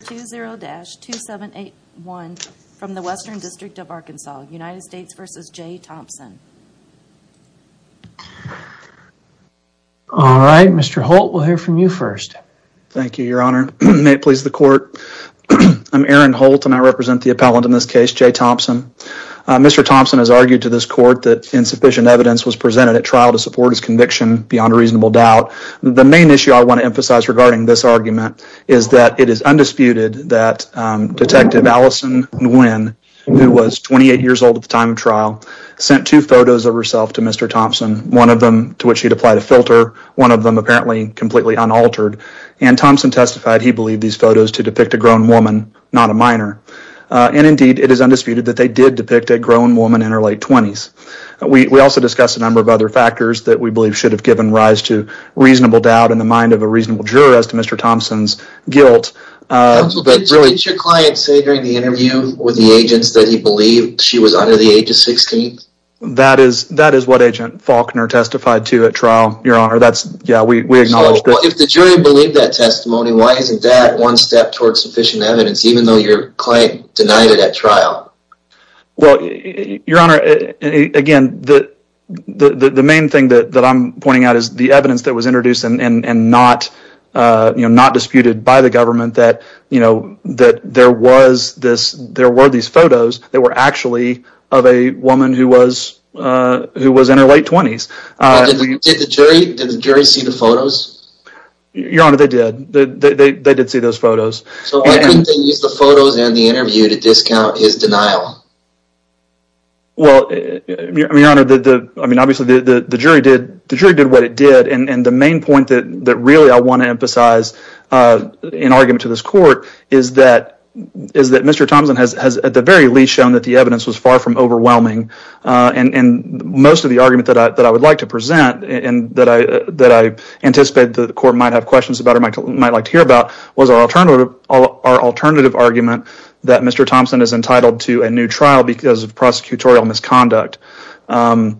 All right, Mr. Holt, we'll hear from you first. Thank you, Your Honor. May it please the Court, I'm Aaron Holt and I represent the appellant in this case, Jay Thompson. Mr. Thompson has argued to this Court that insufficient evidence was presented at trial to support his conviction beyond a reasonable doubt. The main issue I want to emphasize regarding this argument is that it is undisputed that Detective Allison Nguyen, who was 28 years old at the time of trial, sent two photos of herself to Mr. Thompson, one of them to which she'd applied a filter, one of them apparently completely unaltered, and Thompson testified he believed these photos to depict a grown woman, not a minor. And indeed, it is undisputed that they did depict a grown woman in her late 20s. We also discussed a number of other factors that we believe should have given rise to reasonable doubt in the mind of a reasonable juror as to Mr. Thompson's guilt. Judge Holt, what did your client say during the interview with the agents that he believed she was under the age of 16? That is what Agent Faulkner testified to at trial, Your Honor. That's, yeah, we acknowledged that. So, if the jury believed that testimony, why isn't that one step towards sufficient evidence even though your client denied it at trial? Well, Your Honor, again, the main thing that I'm pointing out is the evidence that was introduced and not disputed by the government that there were these photos that were actually of a woman who was in her late 20s. Did the jury see the photos? Your Honor, they did. They did see those photos. So, why couldn't they use the photos in the interview to discount his denial? Well, Your Honor, obviously the jury did what it did, and the main point that really I want to emphasize in argument to this court is that Mr. Thompson has at the very least shown that the evidence was far from overwhelming, and most of the argument that I would like to present and that I anticipate the court might have questions about or might like to hear about was our alternative argument that Mr. Thompson is entitled to a new trial because of prosecutorial misconduct, and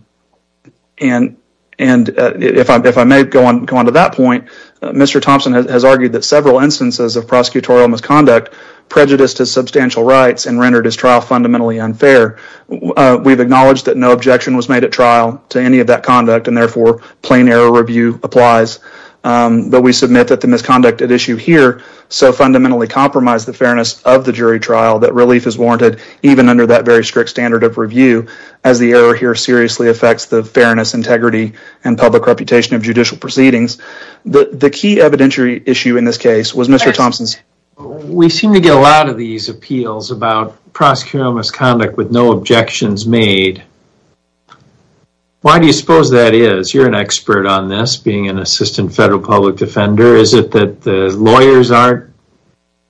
if I may go on to that point, Mr. Thompson has argued that several instances of prosecutorial misconduct prejudiced his substantial rights and rendered his trial fundamentally unfair. We've acknowledged that no objection was made at trial to any of that conduct, and therefore plain error review applies, but we submit that the misconduct at issue here so fundamentally compromised the fairness of the jury trial that relief is warranted even under that very strict standard of review as the error here seriously affects the fairness, integrity, and public reputation of judicial proceedings. The key evidentiary issue in this case was Mr. Thompson's... We seem to get a lot of these appeals about prosecutorial misconduct with no objections made. Why do you suppose that is? You're an expert on this, being an assistant federal public defender. Is it that the lawyers aren't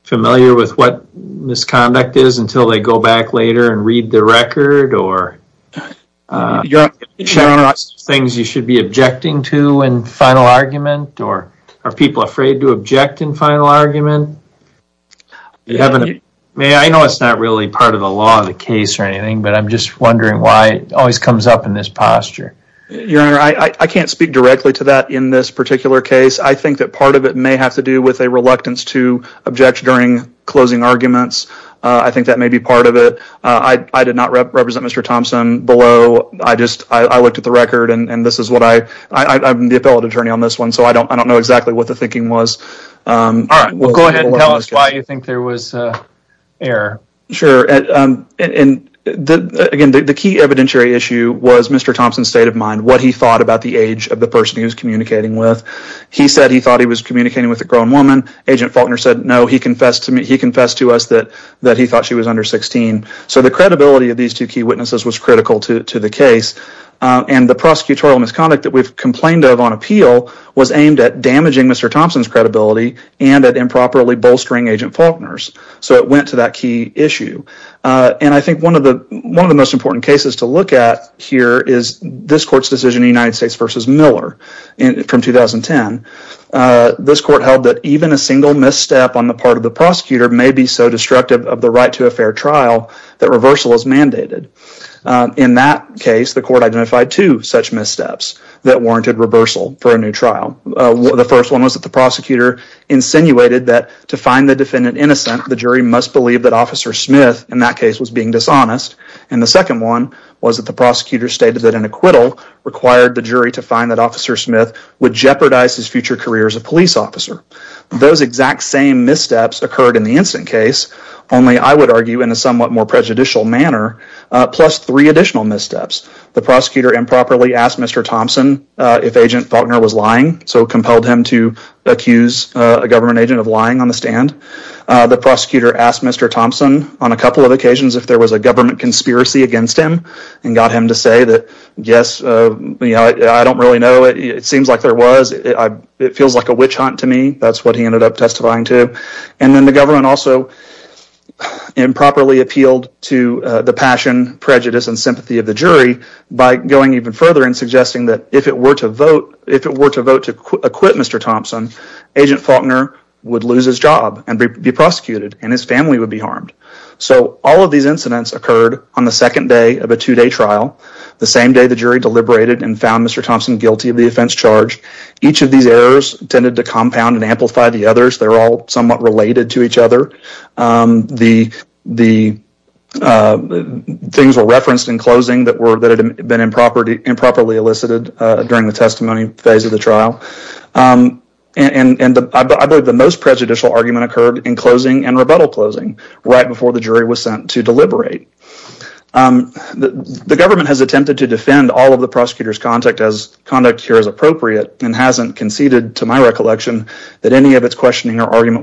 familiar with what misconduct is until they go back later and read the record or things you should be objecting to in final argument, or are people afraid to object in final argument? I know it's not really part of the law of the case or anything, but I'm just wondering why it always comes up in this posture. Your Honor, I can't speak directly to that in this particular case. I think that part of it may have to do with a reluctance to object during closing arguments. I think that may be part of it. I did not represent Mr. Thompson below. I looked at the record, and I'm the appellate attorney on this one, so I don't know exactly what the thinking was. All right. Well, go ahead and tell us why you think there was error. Sure. Again, the key evidentiary issue was Mr. Thompson's state of mind, what he thought about the age of the person he was communicating with. He said he thought he was communicating with a grown woman. Agent Faulkner said, no, he confessed to us that he thought she was under 16. So the credibility of these two key witnesses was critical to the case, and the prosecutorial misconduct that we've complained of on appeal was aimed at damaging Mr. Thompson's credibility and at improperly bolstering Agent Faulkner's. So it went to that key issue, and I think one of the most important cases to look at here is this court's decision in the United States v. Miller from 2010. This court held that even a single misstep on the part of the prosecutor may be so destructive of the right to a fair trial that reversal is mandated. In that case, the court identified two such missteps that warranted reversal for a new trial. The first one was that the prosecutor insinuated that to find the defendant innocent, the jury must believe that Officer Smith, in that case, was being dishonest. And the second one was that the prosecutor stated that an acquittal required the jury to find that Officer Smith would jeopardize his future career as a police officer. Those exact same missteps occurred in the instant case, only I would argue in a somewhat more prejudicial manner, plus three additional missteps. The prosecutor improperly asked Mr. Thompson if Agent Faulkner was lying, so compelled him to accuse a government agent of lying on the stand. The prosecutor asked Mr. Thompson on a couple of occasions if there was a government conspiracy against him, and got him to say that, yes, I don't really know, it seems like there was, it feels like a witch hunt to me, that's what he ended up testifying to. And then the government also improperly appealed to the passion, prejudice, and sympathy of the jury by going even further and suggesting that if it were to vote to acquit Mr. Thompson, Agent Faulkner would lose his job and be prosecuted, and his family would be harmed. So all of these incidents occurred on the second day of a two-day trial, the same day the jury deliberated and found Mr. Thompson guilty of the offense charged. Each of these errors tended to compound and amplify the others, they're all somewhat related to each other. The things were referenced in closing that had been improperly elicited during the testimony phase of the trial, and I believe the most prejudicial argument occurred in closing and rebuttal closing, right before the jury was sent to deliberate. The government has attempted to defend all of the prosecutor's conduct as conduct here is appropriate, and hasn't conceded to my recollection that any of its questioning or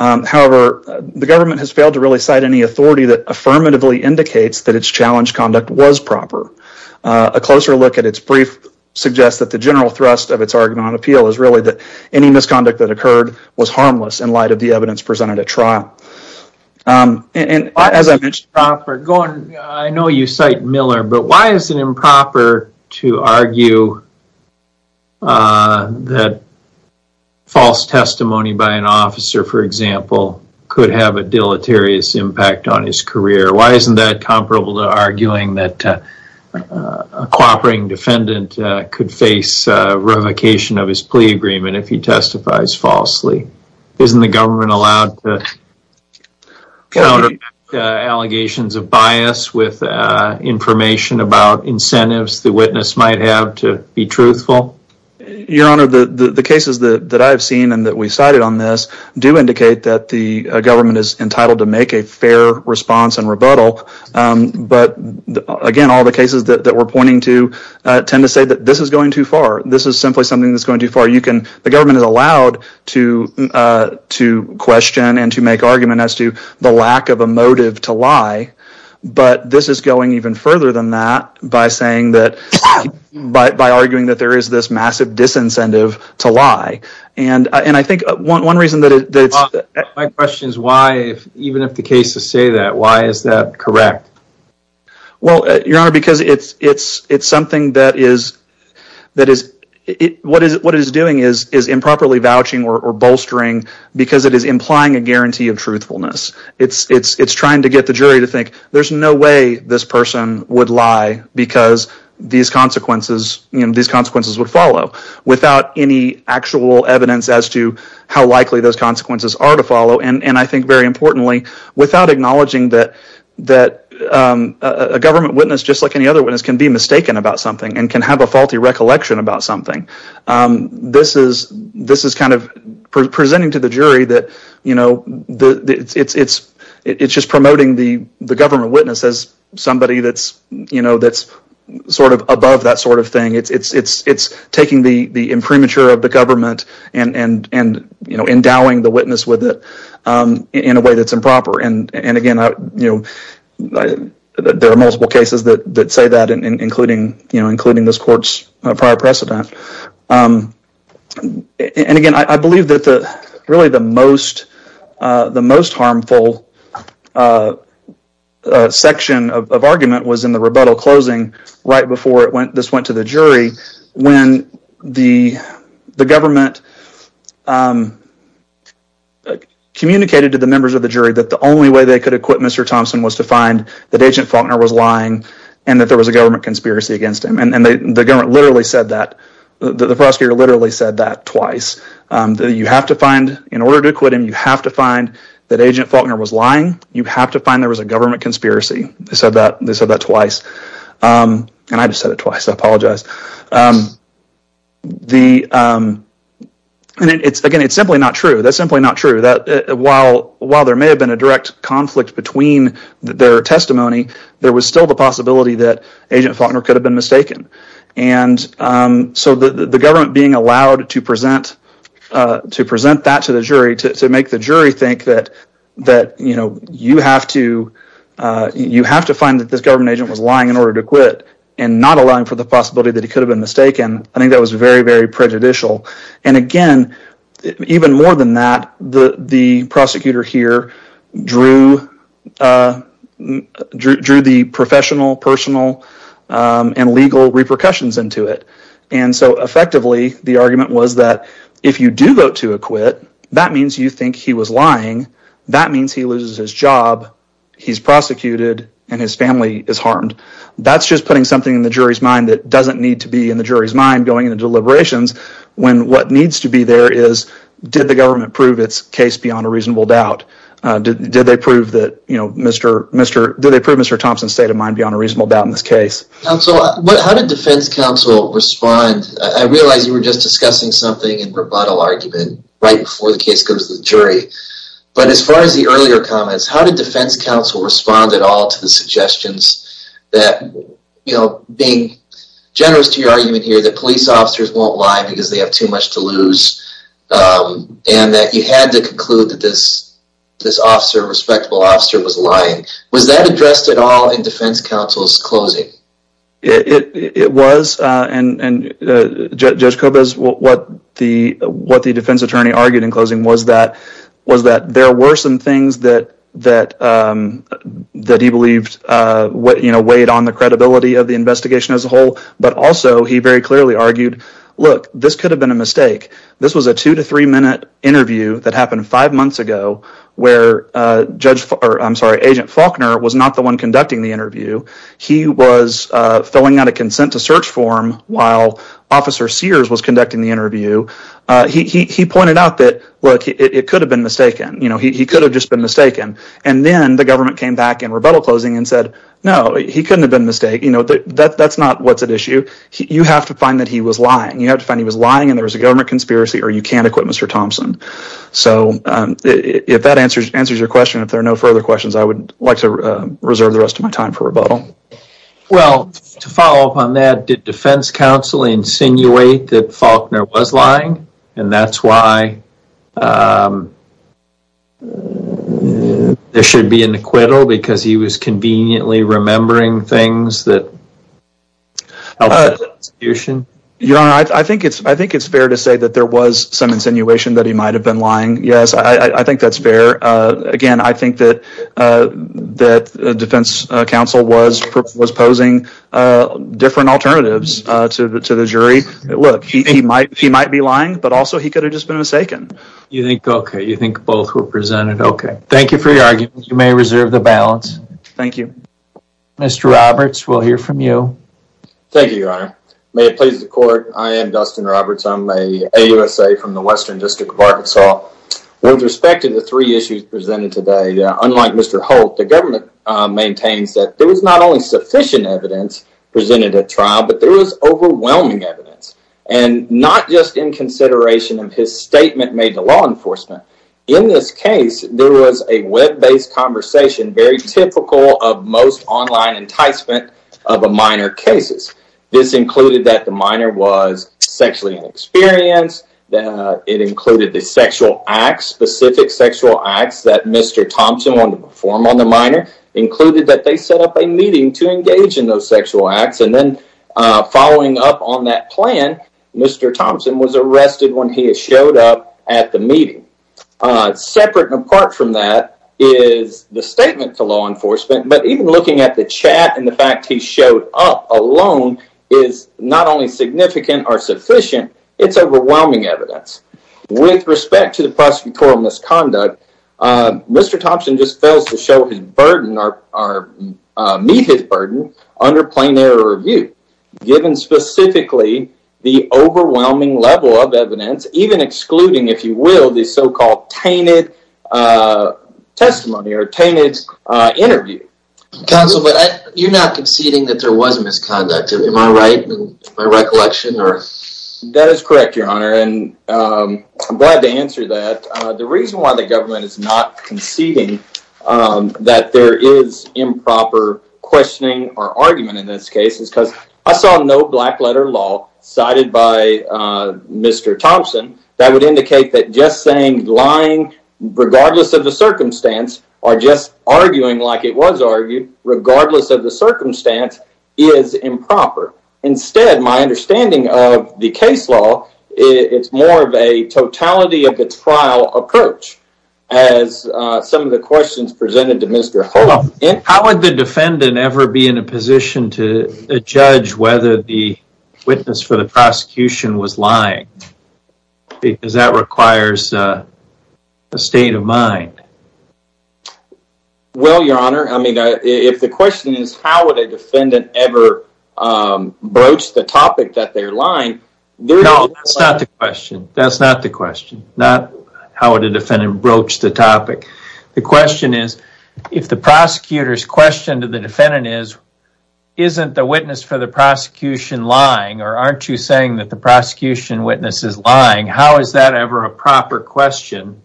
However, the government has failed to really cite any authority that affirmatively indicates that its challenge conduct was proper. A closer look at its brief suggests that the general thrust of its argument on appeal is really that any misconduct that occurred was harmless in light of the evidence presented at trial. As I mentioned, I know you cite Miller, but why is it improper to argue that false testimony by an officer, for example, could have a deleterious impact on his career? Why isn't that comparable to arguing that a cooperating defendant could face revocation of his plea agreement if he testifies falsely? Isn't the government allowed to counter allegations of bias with information about incentives the witness might have to be truthful? Your Honor, the cases that I've seen and that we cited on this do indicate that the government is entitled to make a fair response and rebuttal, but again, all the cases that we're pointing to tend to say that this is going too far. This is simply something that's going too far. The government is allowed to question and to make argument as to the lack of a motive to lie, but this is going even further than that by arguing that there is this massive disincentive to lie. I think one reason that it's... My question is why, even if the cases say that, why is that correct? Well, Your Honor, because what it is doing is improperly vouching or bolstering because it is implying a guarantee of truthfulness. It's trying to get the jury to think there's no way this person would lie because these consequences would follow without any actual evidence as to how likely those consequences are to follow, and I think very importantly, without acknowledging that a government witness, just like any other witness, can be mistaken about something and can have a faulty recollection about something. This is kind of presenting to the jury that it's just promoting the government witness as somebody that's sort of above that sort of thing. It's taking the impremature of the government and endowing the witness with it in a way that's improper, and again, there are multiple cases that say that, including this court's prior precedent. And again, I believe that really the most harmful section of argument was in the rebuttal closing right before this went to the jury when the government communicated to the members of the jury that the only way they could equip Mr. Thompson was to find that Agent Faulkner was lying and that there was a government conspiracy against him, and the government literally said that. The prosecutor literally said that twice. You have to find, in order to acquit him, you have to find that Agent Faulkner was lying, you have to find there was a government conspiracy. They said that twice, and I just said it twice. I apologize. And again, it's simply not true. That's simply not true. While there may have been a direct conflict between their testimony, there was still the So the government being allowed to present that to the jury, to make the jury think that you have to find that this government agent was lying in order to acquit and not allowing for the possibility that he could have been mistaken, I think that was very, very prejudicial. And again, even more than that, the prosecutor here drew the professional, personal, and legal repercussions into it. And so effectively, the argument was that if you do go to acquit, that means you think he was lying. That means he loses his job, he's prosecuted, and his family is harmed. That's just putting something in the jury's mind that doesn't need to be in the jury's mind going into deliberations, when what needs to be there is, did the government prove its case beyond a reasonable doubt? Did they prove that, you know, Mr. Thompson's state of mind beyond a reasonable doubt in this case? Counsel, how did defense counsel respond? I realize you were just discussing something in rebuttal argument right before the case goes to the jury. But as far as the earlier comments, how did defense counsel respond at all to the suggestions that, you know, being generous to your argument here that police officers won't lie because they have too much to lose, and that you had to conclude that this officer, respectable officer was lying. Was that addressed at all in defense counsel's closing? It was, and Judge Cobas, what the defense attorney argued in closing was that there were some things that he believed, you know, weighed on the credibility of the investigation as a whole, but also he very clearly argued, look, this could have been a mistake. This was a two to three minute interview that happened five months ago, where Agent Faulkner was not the one conducting the interview. He was filling out a consent to search form while Officer Sears was conducting the interview. He pointed out that, look, it could have been mistaken. You know, he could have just been mistaken, and then the government came back in rebuttal closing and said, no, he couldn't have been mistaken. You know, that's not what's at issue. You have to find that he was lying. You have to find he was lying and there was a government conspiracy or you can't acquit Mr. Thompson. So, if that answers your question, if there are no further questions, I would like to reserve the rest of my time for rebuttal. Well, to follow up on that, did defense counsel insinuate that Faulkner was lying and that's why there should be an acquittal because he was conveniently remembering things that I think it's fair to say that there was some insinuation that he might have been lying. Yes, I think that's fair. Again, I think that defense counsel was posing different alternatives to the jury. Look, he might be lying, but also he could have just been mistaken. You think, okay, you think both were presented. Okay. Thank you for your argument. You may reserve the balance. Thank you. Mr. Roberts, we'll hear from you. Thank you, Your Honor. May it please the court, I am Dustin Roberts. I'm a AUSA from the Western District of Arkansas. With respect to the three issues presented today, unlike Mr. Holt, the government maintains that there was not only sufficient evidence presented at trial, but there was overwhelming evidence and not just in consideration of his statement made to law enforcement. In this case, there was a web-based conversation, very typical of most online enticement of a minor cases. This included that the minor was sexually inexperienced, that it included the sexual acts, specific sexual acts that Mr. Thompson wanted to perform on the minor, included that they set up a meeting to engage in those sexual acts, and then following up on that plan, Mr. Thompson was arrested when he showed up at the meeting. Separate and apart from that is the statement to law enforcement, but even looking at the fact that he showed up alone is not only significant or sufficient, it's overwhelming evidence. With respect to the prosecutorial misconduct, Mr. Thompson just fails to show his burden or meet his burden under plain error review, given specifically the overwhelming level of evidence, even excluding, if you will, the so-called tainted testimony or tainted interview. Counsel, you're not conceding that there was misconduct, am I right in my recollection? That is correct, your honor, and I'm glad to answer that. The reason why the government is not conceding that there is improper questioning or argument in this case is because I saw no black letter law cited by Mr. Thompson that would indicate that just saying lying, regardless of the circumstance, or just arguing like it was argued, regardless of the circumstance, is improper. Instead, my understanding of the case law, it's more of a totality of the trial approach, as some of the questions presented to Mr. Holmes. How would the defendant ever be in a position to judge whether the witness for the prosecution was lying? Because that requires a state of mind. Well, your honor, I mean, if the question is how would a defendant ever broach the topic that they're lying, that's not the question. That's not the question. Not how would a defendant broach the topic. The question is, if the prosecutor's question to the defendant is, isn't the witness for the prosecution lying, how is that ever a proper question?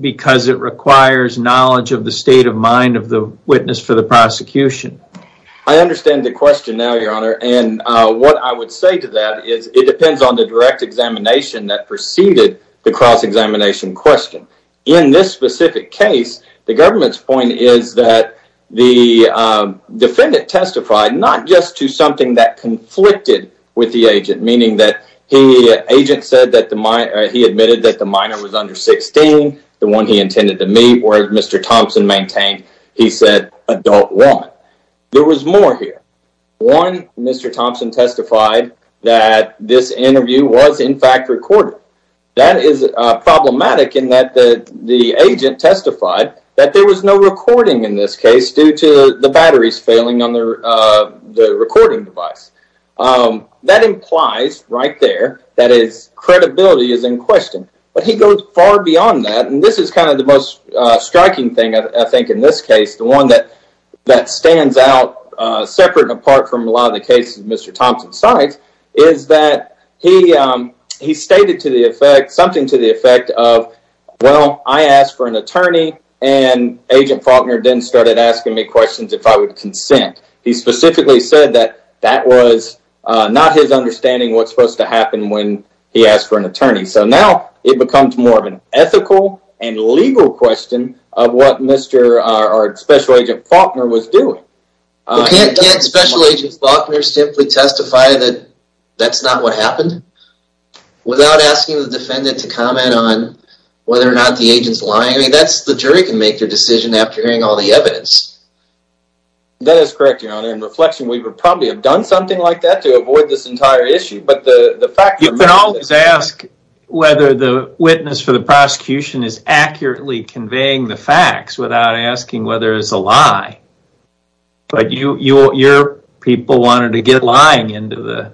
Because it requires knowledge of the state of mind of the witness for the prosecution. I understand the question now, your honor, and what I would say to that is it depends on the direct examination that preceded the cross-examination question. In this specific case, the government's point is that the defendant testified not just to that conflicted with the agent, meaning that the agent admitted that the minor was under 16, the one he intended to meet, whereas Mr. Thompson maintained he said adult woman. There was more here. One, Mr. Thompson testified that this interview was, in fact, recorded. That is problematic in that the agent testified that there was no recording in this case due to the batteries failing on the recording device. That implies right there that his credibility is in question, but he goes far beyond that, and this is kind of the most striking thing, I think, in this case. The one that stands out separate and apart from a lot of the cases Mr. Thompson cites is that he stated to the effect, something to the effect of, well, I asked for an attorney and Agent Faulkner then started asking me questions if I would consent. He specifically said that that was not his understanding what's supposed to happen when he asked for an attorney, so now it becomes more of an ethical and legal question of what Mr. or Special Agent Faulkner was doing. You can't get Special Agent Faulkner to simply testify that that's not what happened without asking the defendant to comment on whether or not the agent's lying. The jury can make their decision after hearing all the evidence. That is correct, Your Honor. In reflection, we would probably have done something like that to avoid this entire issue, but the fact... You can always ask whether the witness for the prosecution is accurately conveying the facts without asking whether it's a lie, but your people wanted to get lying into the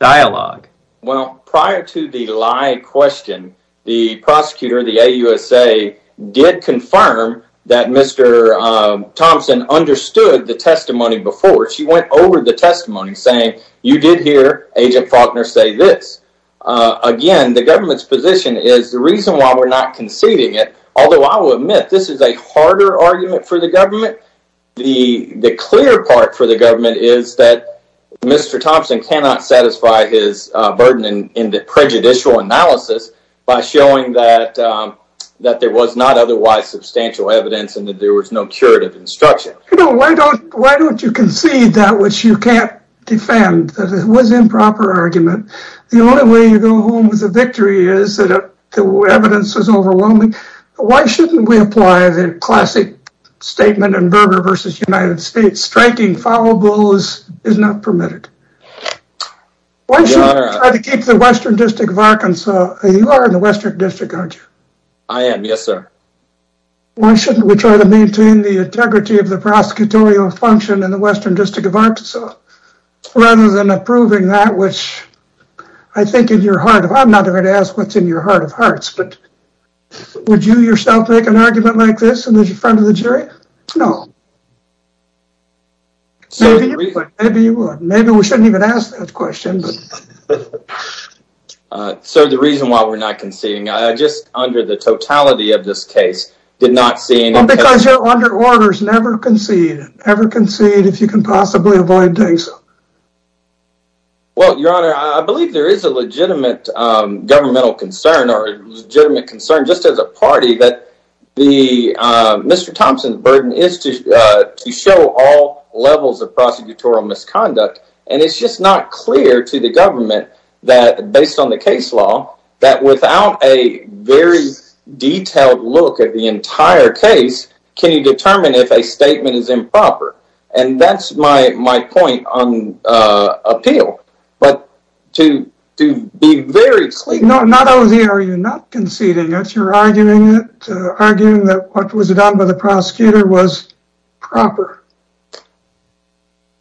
dialogue. Well, prior to the lie question, the prosecutor, the AUSA, did confirm that Mr. Thompson understood the testimony before. She went over the testimony saying, you did hear Agent Faulkner say this. Again, the government's position is the reason why we're not conceding it, although I will The clear part for the government is that Mr. Thompson cannot satisfy his burden in the prejudicial analysis by showing that there was not otherwise substantial evidence and that there was no curative instruction. Why don't you concede that which you can't defend, that it was improper argument? The only way you go home with a victory is that the evidence is overwhelming. Why shouldn't we apply the classic statement in Berger v. United States, striking foul bulls is not permitted? Why shouldn't we try to keep the Western District of Arkansas... You are in the Western District, aren't you? I am, yes, sir. Why shouldn't we try to maintain the integrity of the prosecutorial function in the Western District of Arkansas rather than approving that which I think in your heart... I'm not going to ask what's in your heart of hearts, but... Would you yourself make an argument like this in front of the jury? No. Maybe you would. Maybe we shouldn't even ask that question, but... Sir, the reason why we're not conceding, just under the totality of this case, did not see... Because you're under orders, never concede. Ever concede if you can possibly avoid doing so. Well, your honor, I believe there is a legitimate governmental concern or a legitimate concern just as a party that Mr. Thompson's burden is to show all levels of prosecutorial misconduct, and it's just not clear to the government that, based on the case law, that without a very detailed look at the entire case, can you determine if a statement is improper? And that's my point on appeal. But to be very clear... Not only are you not conceding, but you're arguing that what was done by the prosecutor was proper.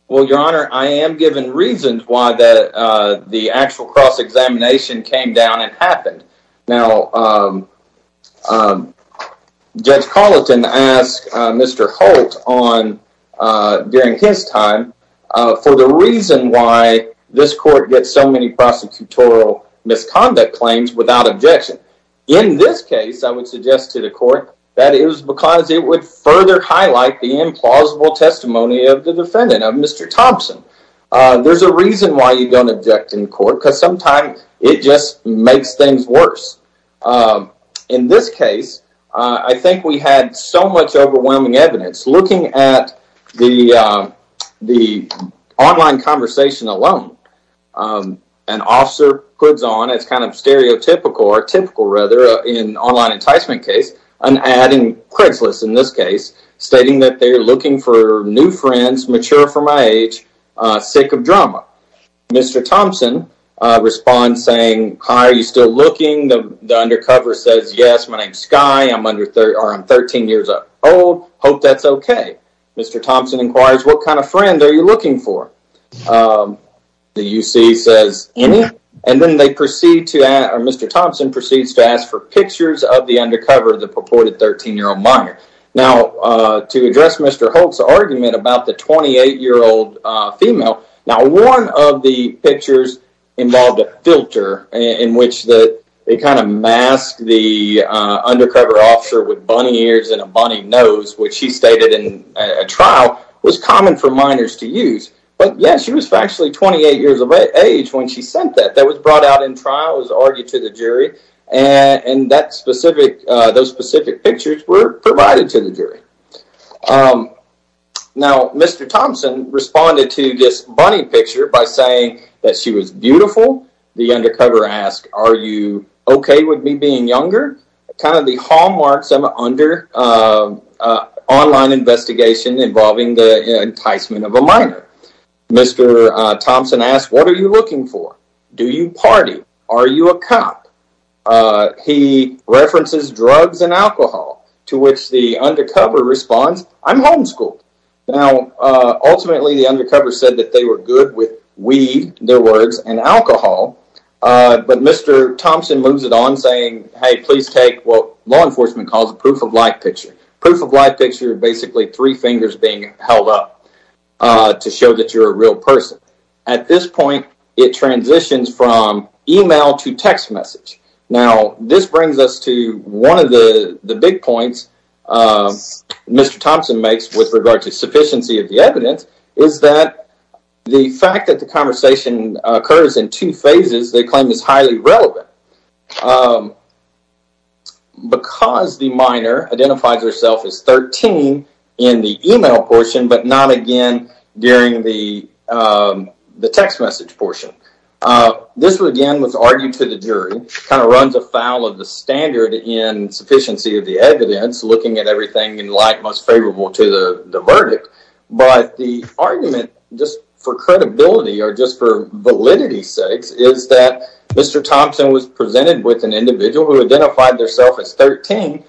Well, your honor, I am given reasons why the actual cross-examination came down and happened. Now, Judge Colleton asked Mr. Holt during his time for the reason why this court gets so many prosecutorial misconduct claims without objection. In this case, I would suggest to the court that it was because it would further highlight the implausible testimony of the defendant, of Mr. Thompson. There's a reason why you don't object in court, because sometimes it just makes things worse. In this case, I think we had so much overwhelming evidence. Looking at the online conversation alone, an officer puts on, as kind of stereotypical, or typical, rather, in online enticement case, an ad in Craigslist, in this case, stating that they're looking for new friends, mature for my age, sick of drama. Mr. Thompson responds saying, hi, are you still looking? The undercover says, yes, my name's Skye. I'm 13 years old. Hope that's okay. Mr. Thompson inquires, what kind of friend are you looking for? The UC says, any? And then they proceed to, or Mr. Thompson proceeds to ask for pictures of the undercover, the purported 13-year-old minor. Now, to address Mr. Holt's argument about the 28-year-old female, now one of the pictures involved a filter in which they kind of mask the undercover officer with bunny ears and a she stated in a trial, was common for minors to use. But yeah, she was actually 28 years of age when she sent that. That was brought out in trial, was argued to the jury, and those specific pictures were provided to the jury. Now, Mr. Thompson responded to this bunny picture by saying that she was beautiful. The undercover asked, are you okay with me being younger? Kind of the hallmarks of an under online investigation involving the enticement of a minor. Mr. Thompson asked, what are you looking for? Do you party? Are you a cop? He references drugs and alcohol, to which the undercover responds, I'm homeschooled. Now, ultimately, the undercover said that they were good with weed, their words, and law enforcement calls a proof of life picture. Proof of life picture, basically three fingers being held up to show that you're a real person. At this point, it transitions from email to text message. Now, this brings us to one of the big points Mr. Thompson makes with regard to sufficiency of the evidence, is that the fact that the conversation occurs in two phases, they claim is highly relevant. Because the minor identifies herself as 13 in the email portion, but not again during the text message portion. This, again, was argued to the jury, kind of runs afoul of the standard in sufficiency of the evidence, looking at everything in light most favorable to the verdict. The argument, just for credibility or just for validity sakes, is that Mr. Thompson was 13,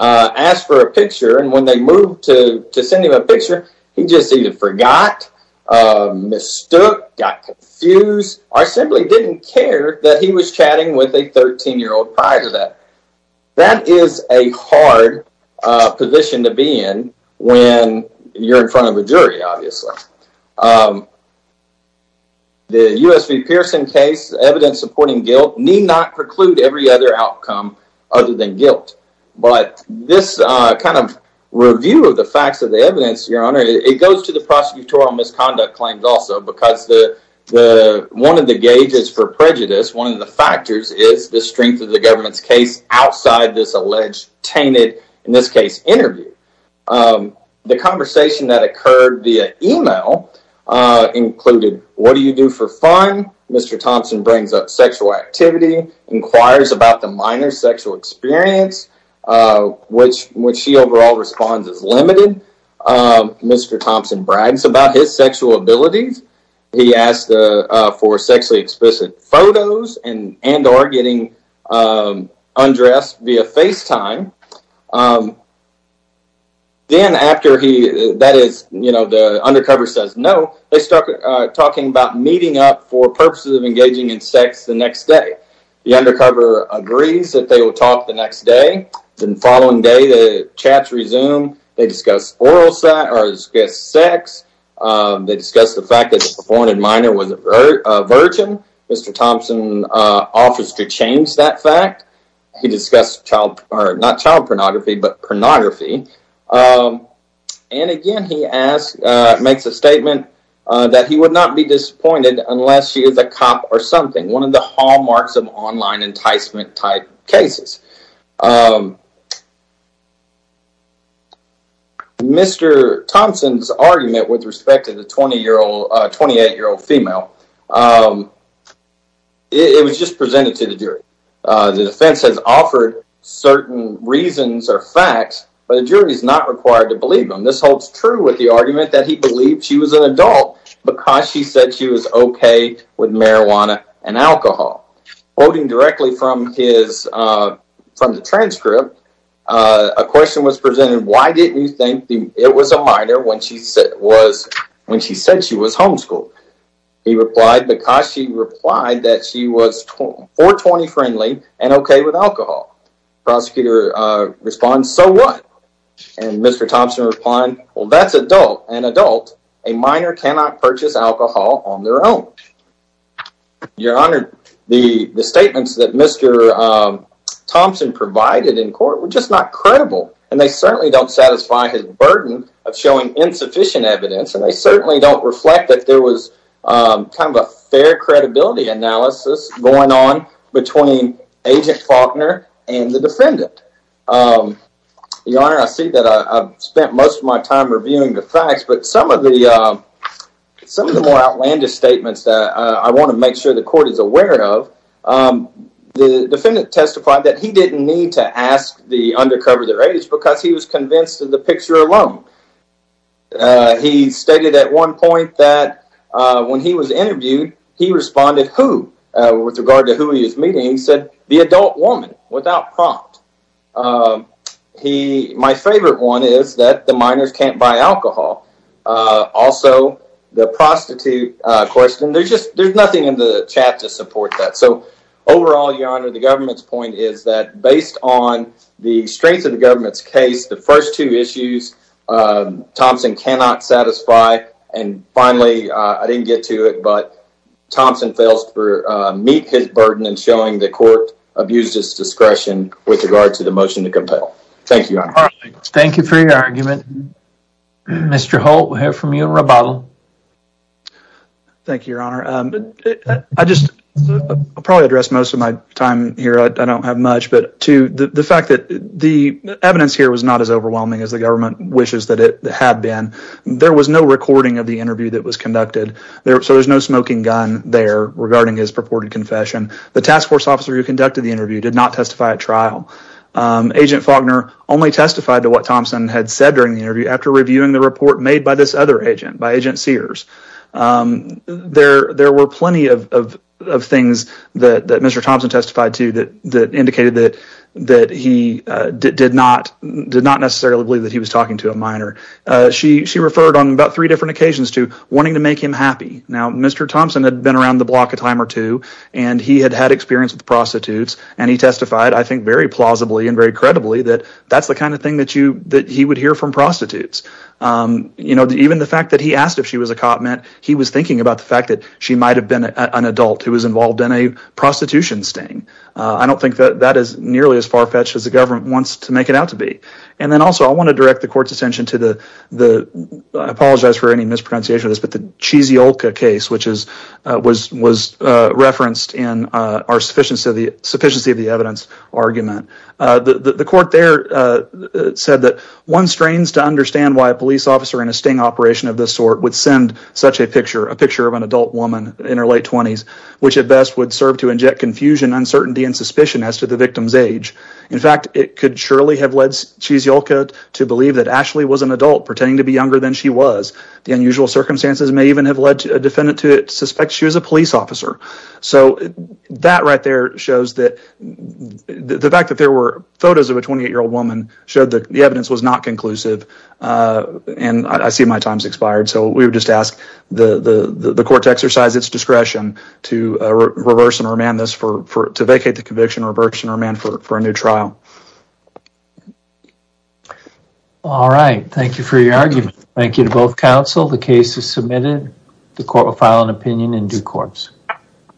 asked for a picture, and when they moved to send him a picture, he just either forgot, mistook, got confused, or simply didn't care that he was chatting with a 13-year-old prior to that. That is a hard position to be in when you're in front of a jury, obviously. The U.S. v. Pearson case, evidence supporting guilt, need not preclude every other outcome other than guilt. But this kind of review of the facts of the evidence, Your Honor, it goes to the prosecutorial misconduct claims also, because one of the gauges for prejudice, one of the factors, is the strength of the government's case outside this alleged, tainted, in this case, interview. The conversation that occurred via email included, what do you do for fun? Mr. Thompson brings up sexual activity, inquires about the minor sexual experience, which he overall responds is limited. Mr. Thompson brags about his sexual abilities. He asked for sexually explicit photos and or getting undressed via FaceTime. Then, after he, that is, you know, the undercover says no, they start talking about meeting up for purposes of engaging in sex the next day. The undercover agrees that they will talk the next day. The following day, the chats resume. They discuss oral sex, they discuss the fact that the foreign and minor was a virgin. Mr. Thompson offers to change that fact. He discussed child, not child pornography, but pornography. And again, he asks, makes a statement that he would not be disappointed unless she is a cop or something, one of the hallmarks of online enticement type cases. Mr. Thompson's argument with respect to the 20-year-old, 28-year-old female, um, it was just presented to the jury. The defense has offered certain reasons or facts, but the jury is not required to believe them. This holds true with the argument that he believed she was an adult because she said she was okay with marijuana and alcohol. Quoting directly from his, uh, from the transcript, uh, a question was presented. Why didn't you think it was a minor when she said it was, when she said she was homeschooled? He replied because she replied that she was 4'20 friendly and okay with alcohol. Prosecutor responds, so what? And Mr. Thompson replied, well, that's adult. An adult, a minor cannot purchase alcohol on their own. Your Honor, the, the statements that Mr. Thompson provided in court were just not credible and they certainly don't satisfy his burden of showing insufficient evidence and they certainly don't reflect that there was, um, kind of a fair credibility analysis going on between Agent Faulkner and the defendant. Um, Your Honor, I see that I've spent most of my time reviewing the facts, but some of the, um, some of the more outlandish statements that I want to make sure the court is aware of, um, the defendant testified that he didn't need to ask the undercover the rapist because he was convinced of the picture alone. Uh, he stated at one point that, uh, when he was interviewed, he responded who, uh, with regard to who he was meeting, he said the adult woman without prompt. Um, he, my favorite one is that the minors can't buy alcohol. Uh, also the prostitute, uh, question, there's just, there's nothing in the chat to support that. So overall, Your Honor, the government's point is that based on the strength of the government's case, the first two issues, um, Thompson cannot satisfy. And finally, uh, I didn't get to it, but Thompson fails for, uh, meet his burden in showing the court abused his discretion with regard to the motion to compel. Thank you, Your Honor. All right. Thank you for your argument. Mr. Holt, we'll hear from you in rebuttal. Thank you, Your Honor. Um, I just, I'll probably address most of my time here. I don't have much, but to the fact that the evidence here was not as overwhelming as the government wishes that it had been, there was no recording of the interview that was conducted there. So there's no smoking gun there regarding his purported confession. The task force officer who conducted the interview did not testify at trial. Um, agent Faulkner only testified to what Thompson had said during the interview after reviewing the report made by this other agent, by agent Sears. Um, there, there were plenty of, of, of things that, that Mr. Thompson testified to that, that indicated that, that he, uh, did not, did not necessarily believe that he was talking to a minor. Uh, she, she referred on about three different occasions to wanting to make him happy. Now, Mr. Thompson had been around the block a time or two and he had had experience with prostitutes and he testified, I think very plausibly and very credibly that that's the kind of thing that you, that he would hear from prostitutes. Um, you know, even the fact that he asked if she was a cop meant he was thinking about the fact that she might've been an adult who was involved in a prostitution sting. Uh, I don't think that, that is nearly as farfetched as the government wants to make it out to be. And then also I want to direct the court's attention to the, the, I apologize for any mispronunciation of this, but the Cheesy Olka case, which is, uh, was, was, uh, referenced in, uh, our sufficiency of the, sufficiency of the evidence argument. Uh, the, the, the court there, uh, said that one strains to understand why a police officer in a sting operation of this sort would send such a picture, a picture of an adult woman in her late twenties, which at best would serve to inject confusion, uncertainty, and suspicion as to the victim's age. In fact, it could surely have led Cheesy Olka to believe that Ashley was an adult pretending to be younger than she was. The unusual circumstances may even have led to a defendant to suspect she was a police officer. So that right there shows that the fact that there were photos of a 28-year-old woman showed that the evidence was not conclusive, uh, and I see my time's expired. So we would just ask the, the, the court to exercise its discretion to, uh, reverse and remand this for, for, to vacate the conviction, reverse and remand for, for a new trial. All right. Thank you for your argument. Thank you to both counsel. The case is submitted. The court will file an opinion in due course.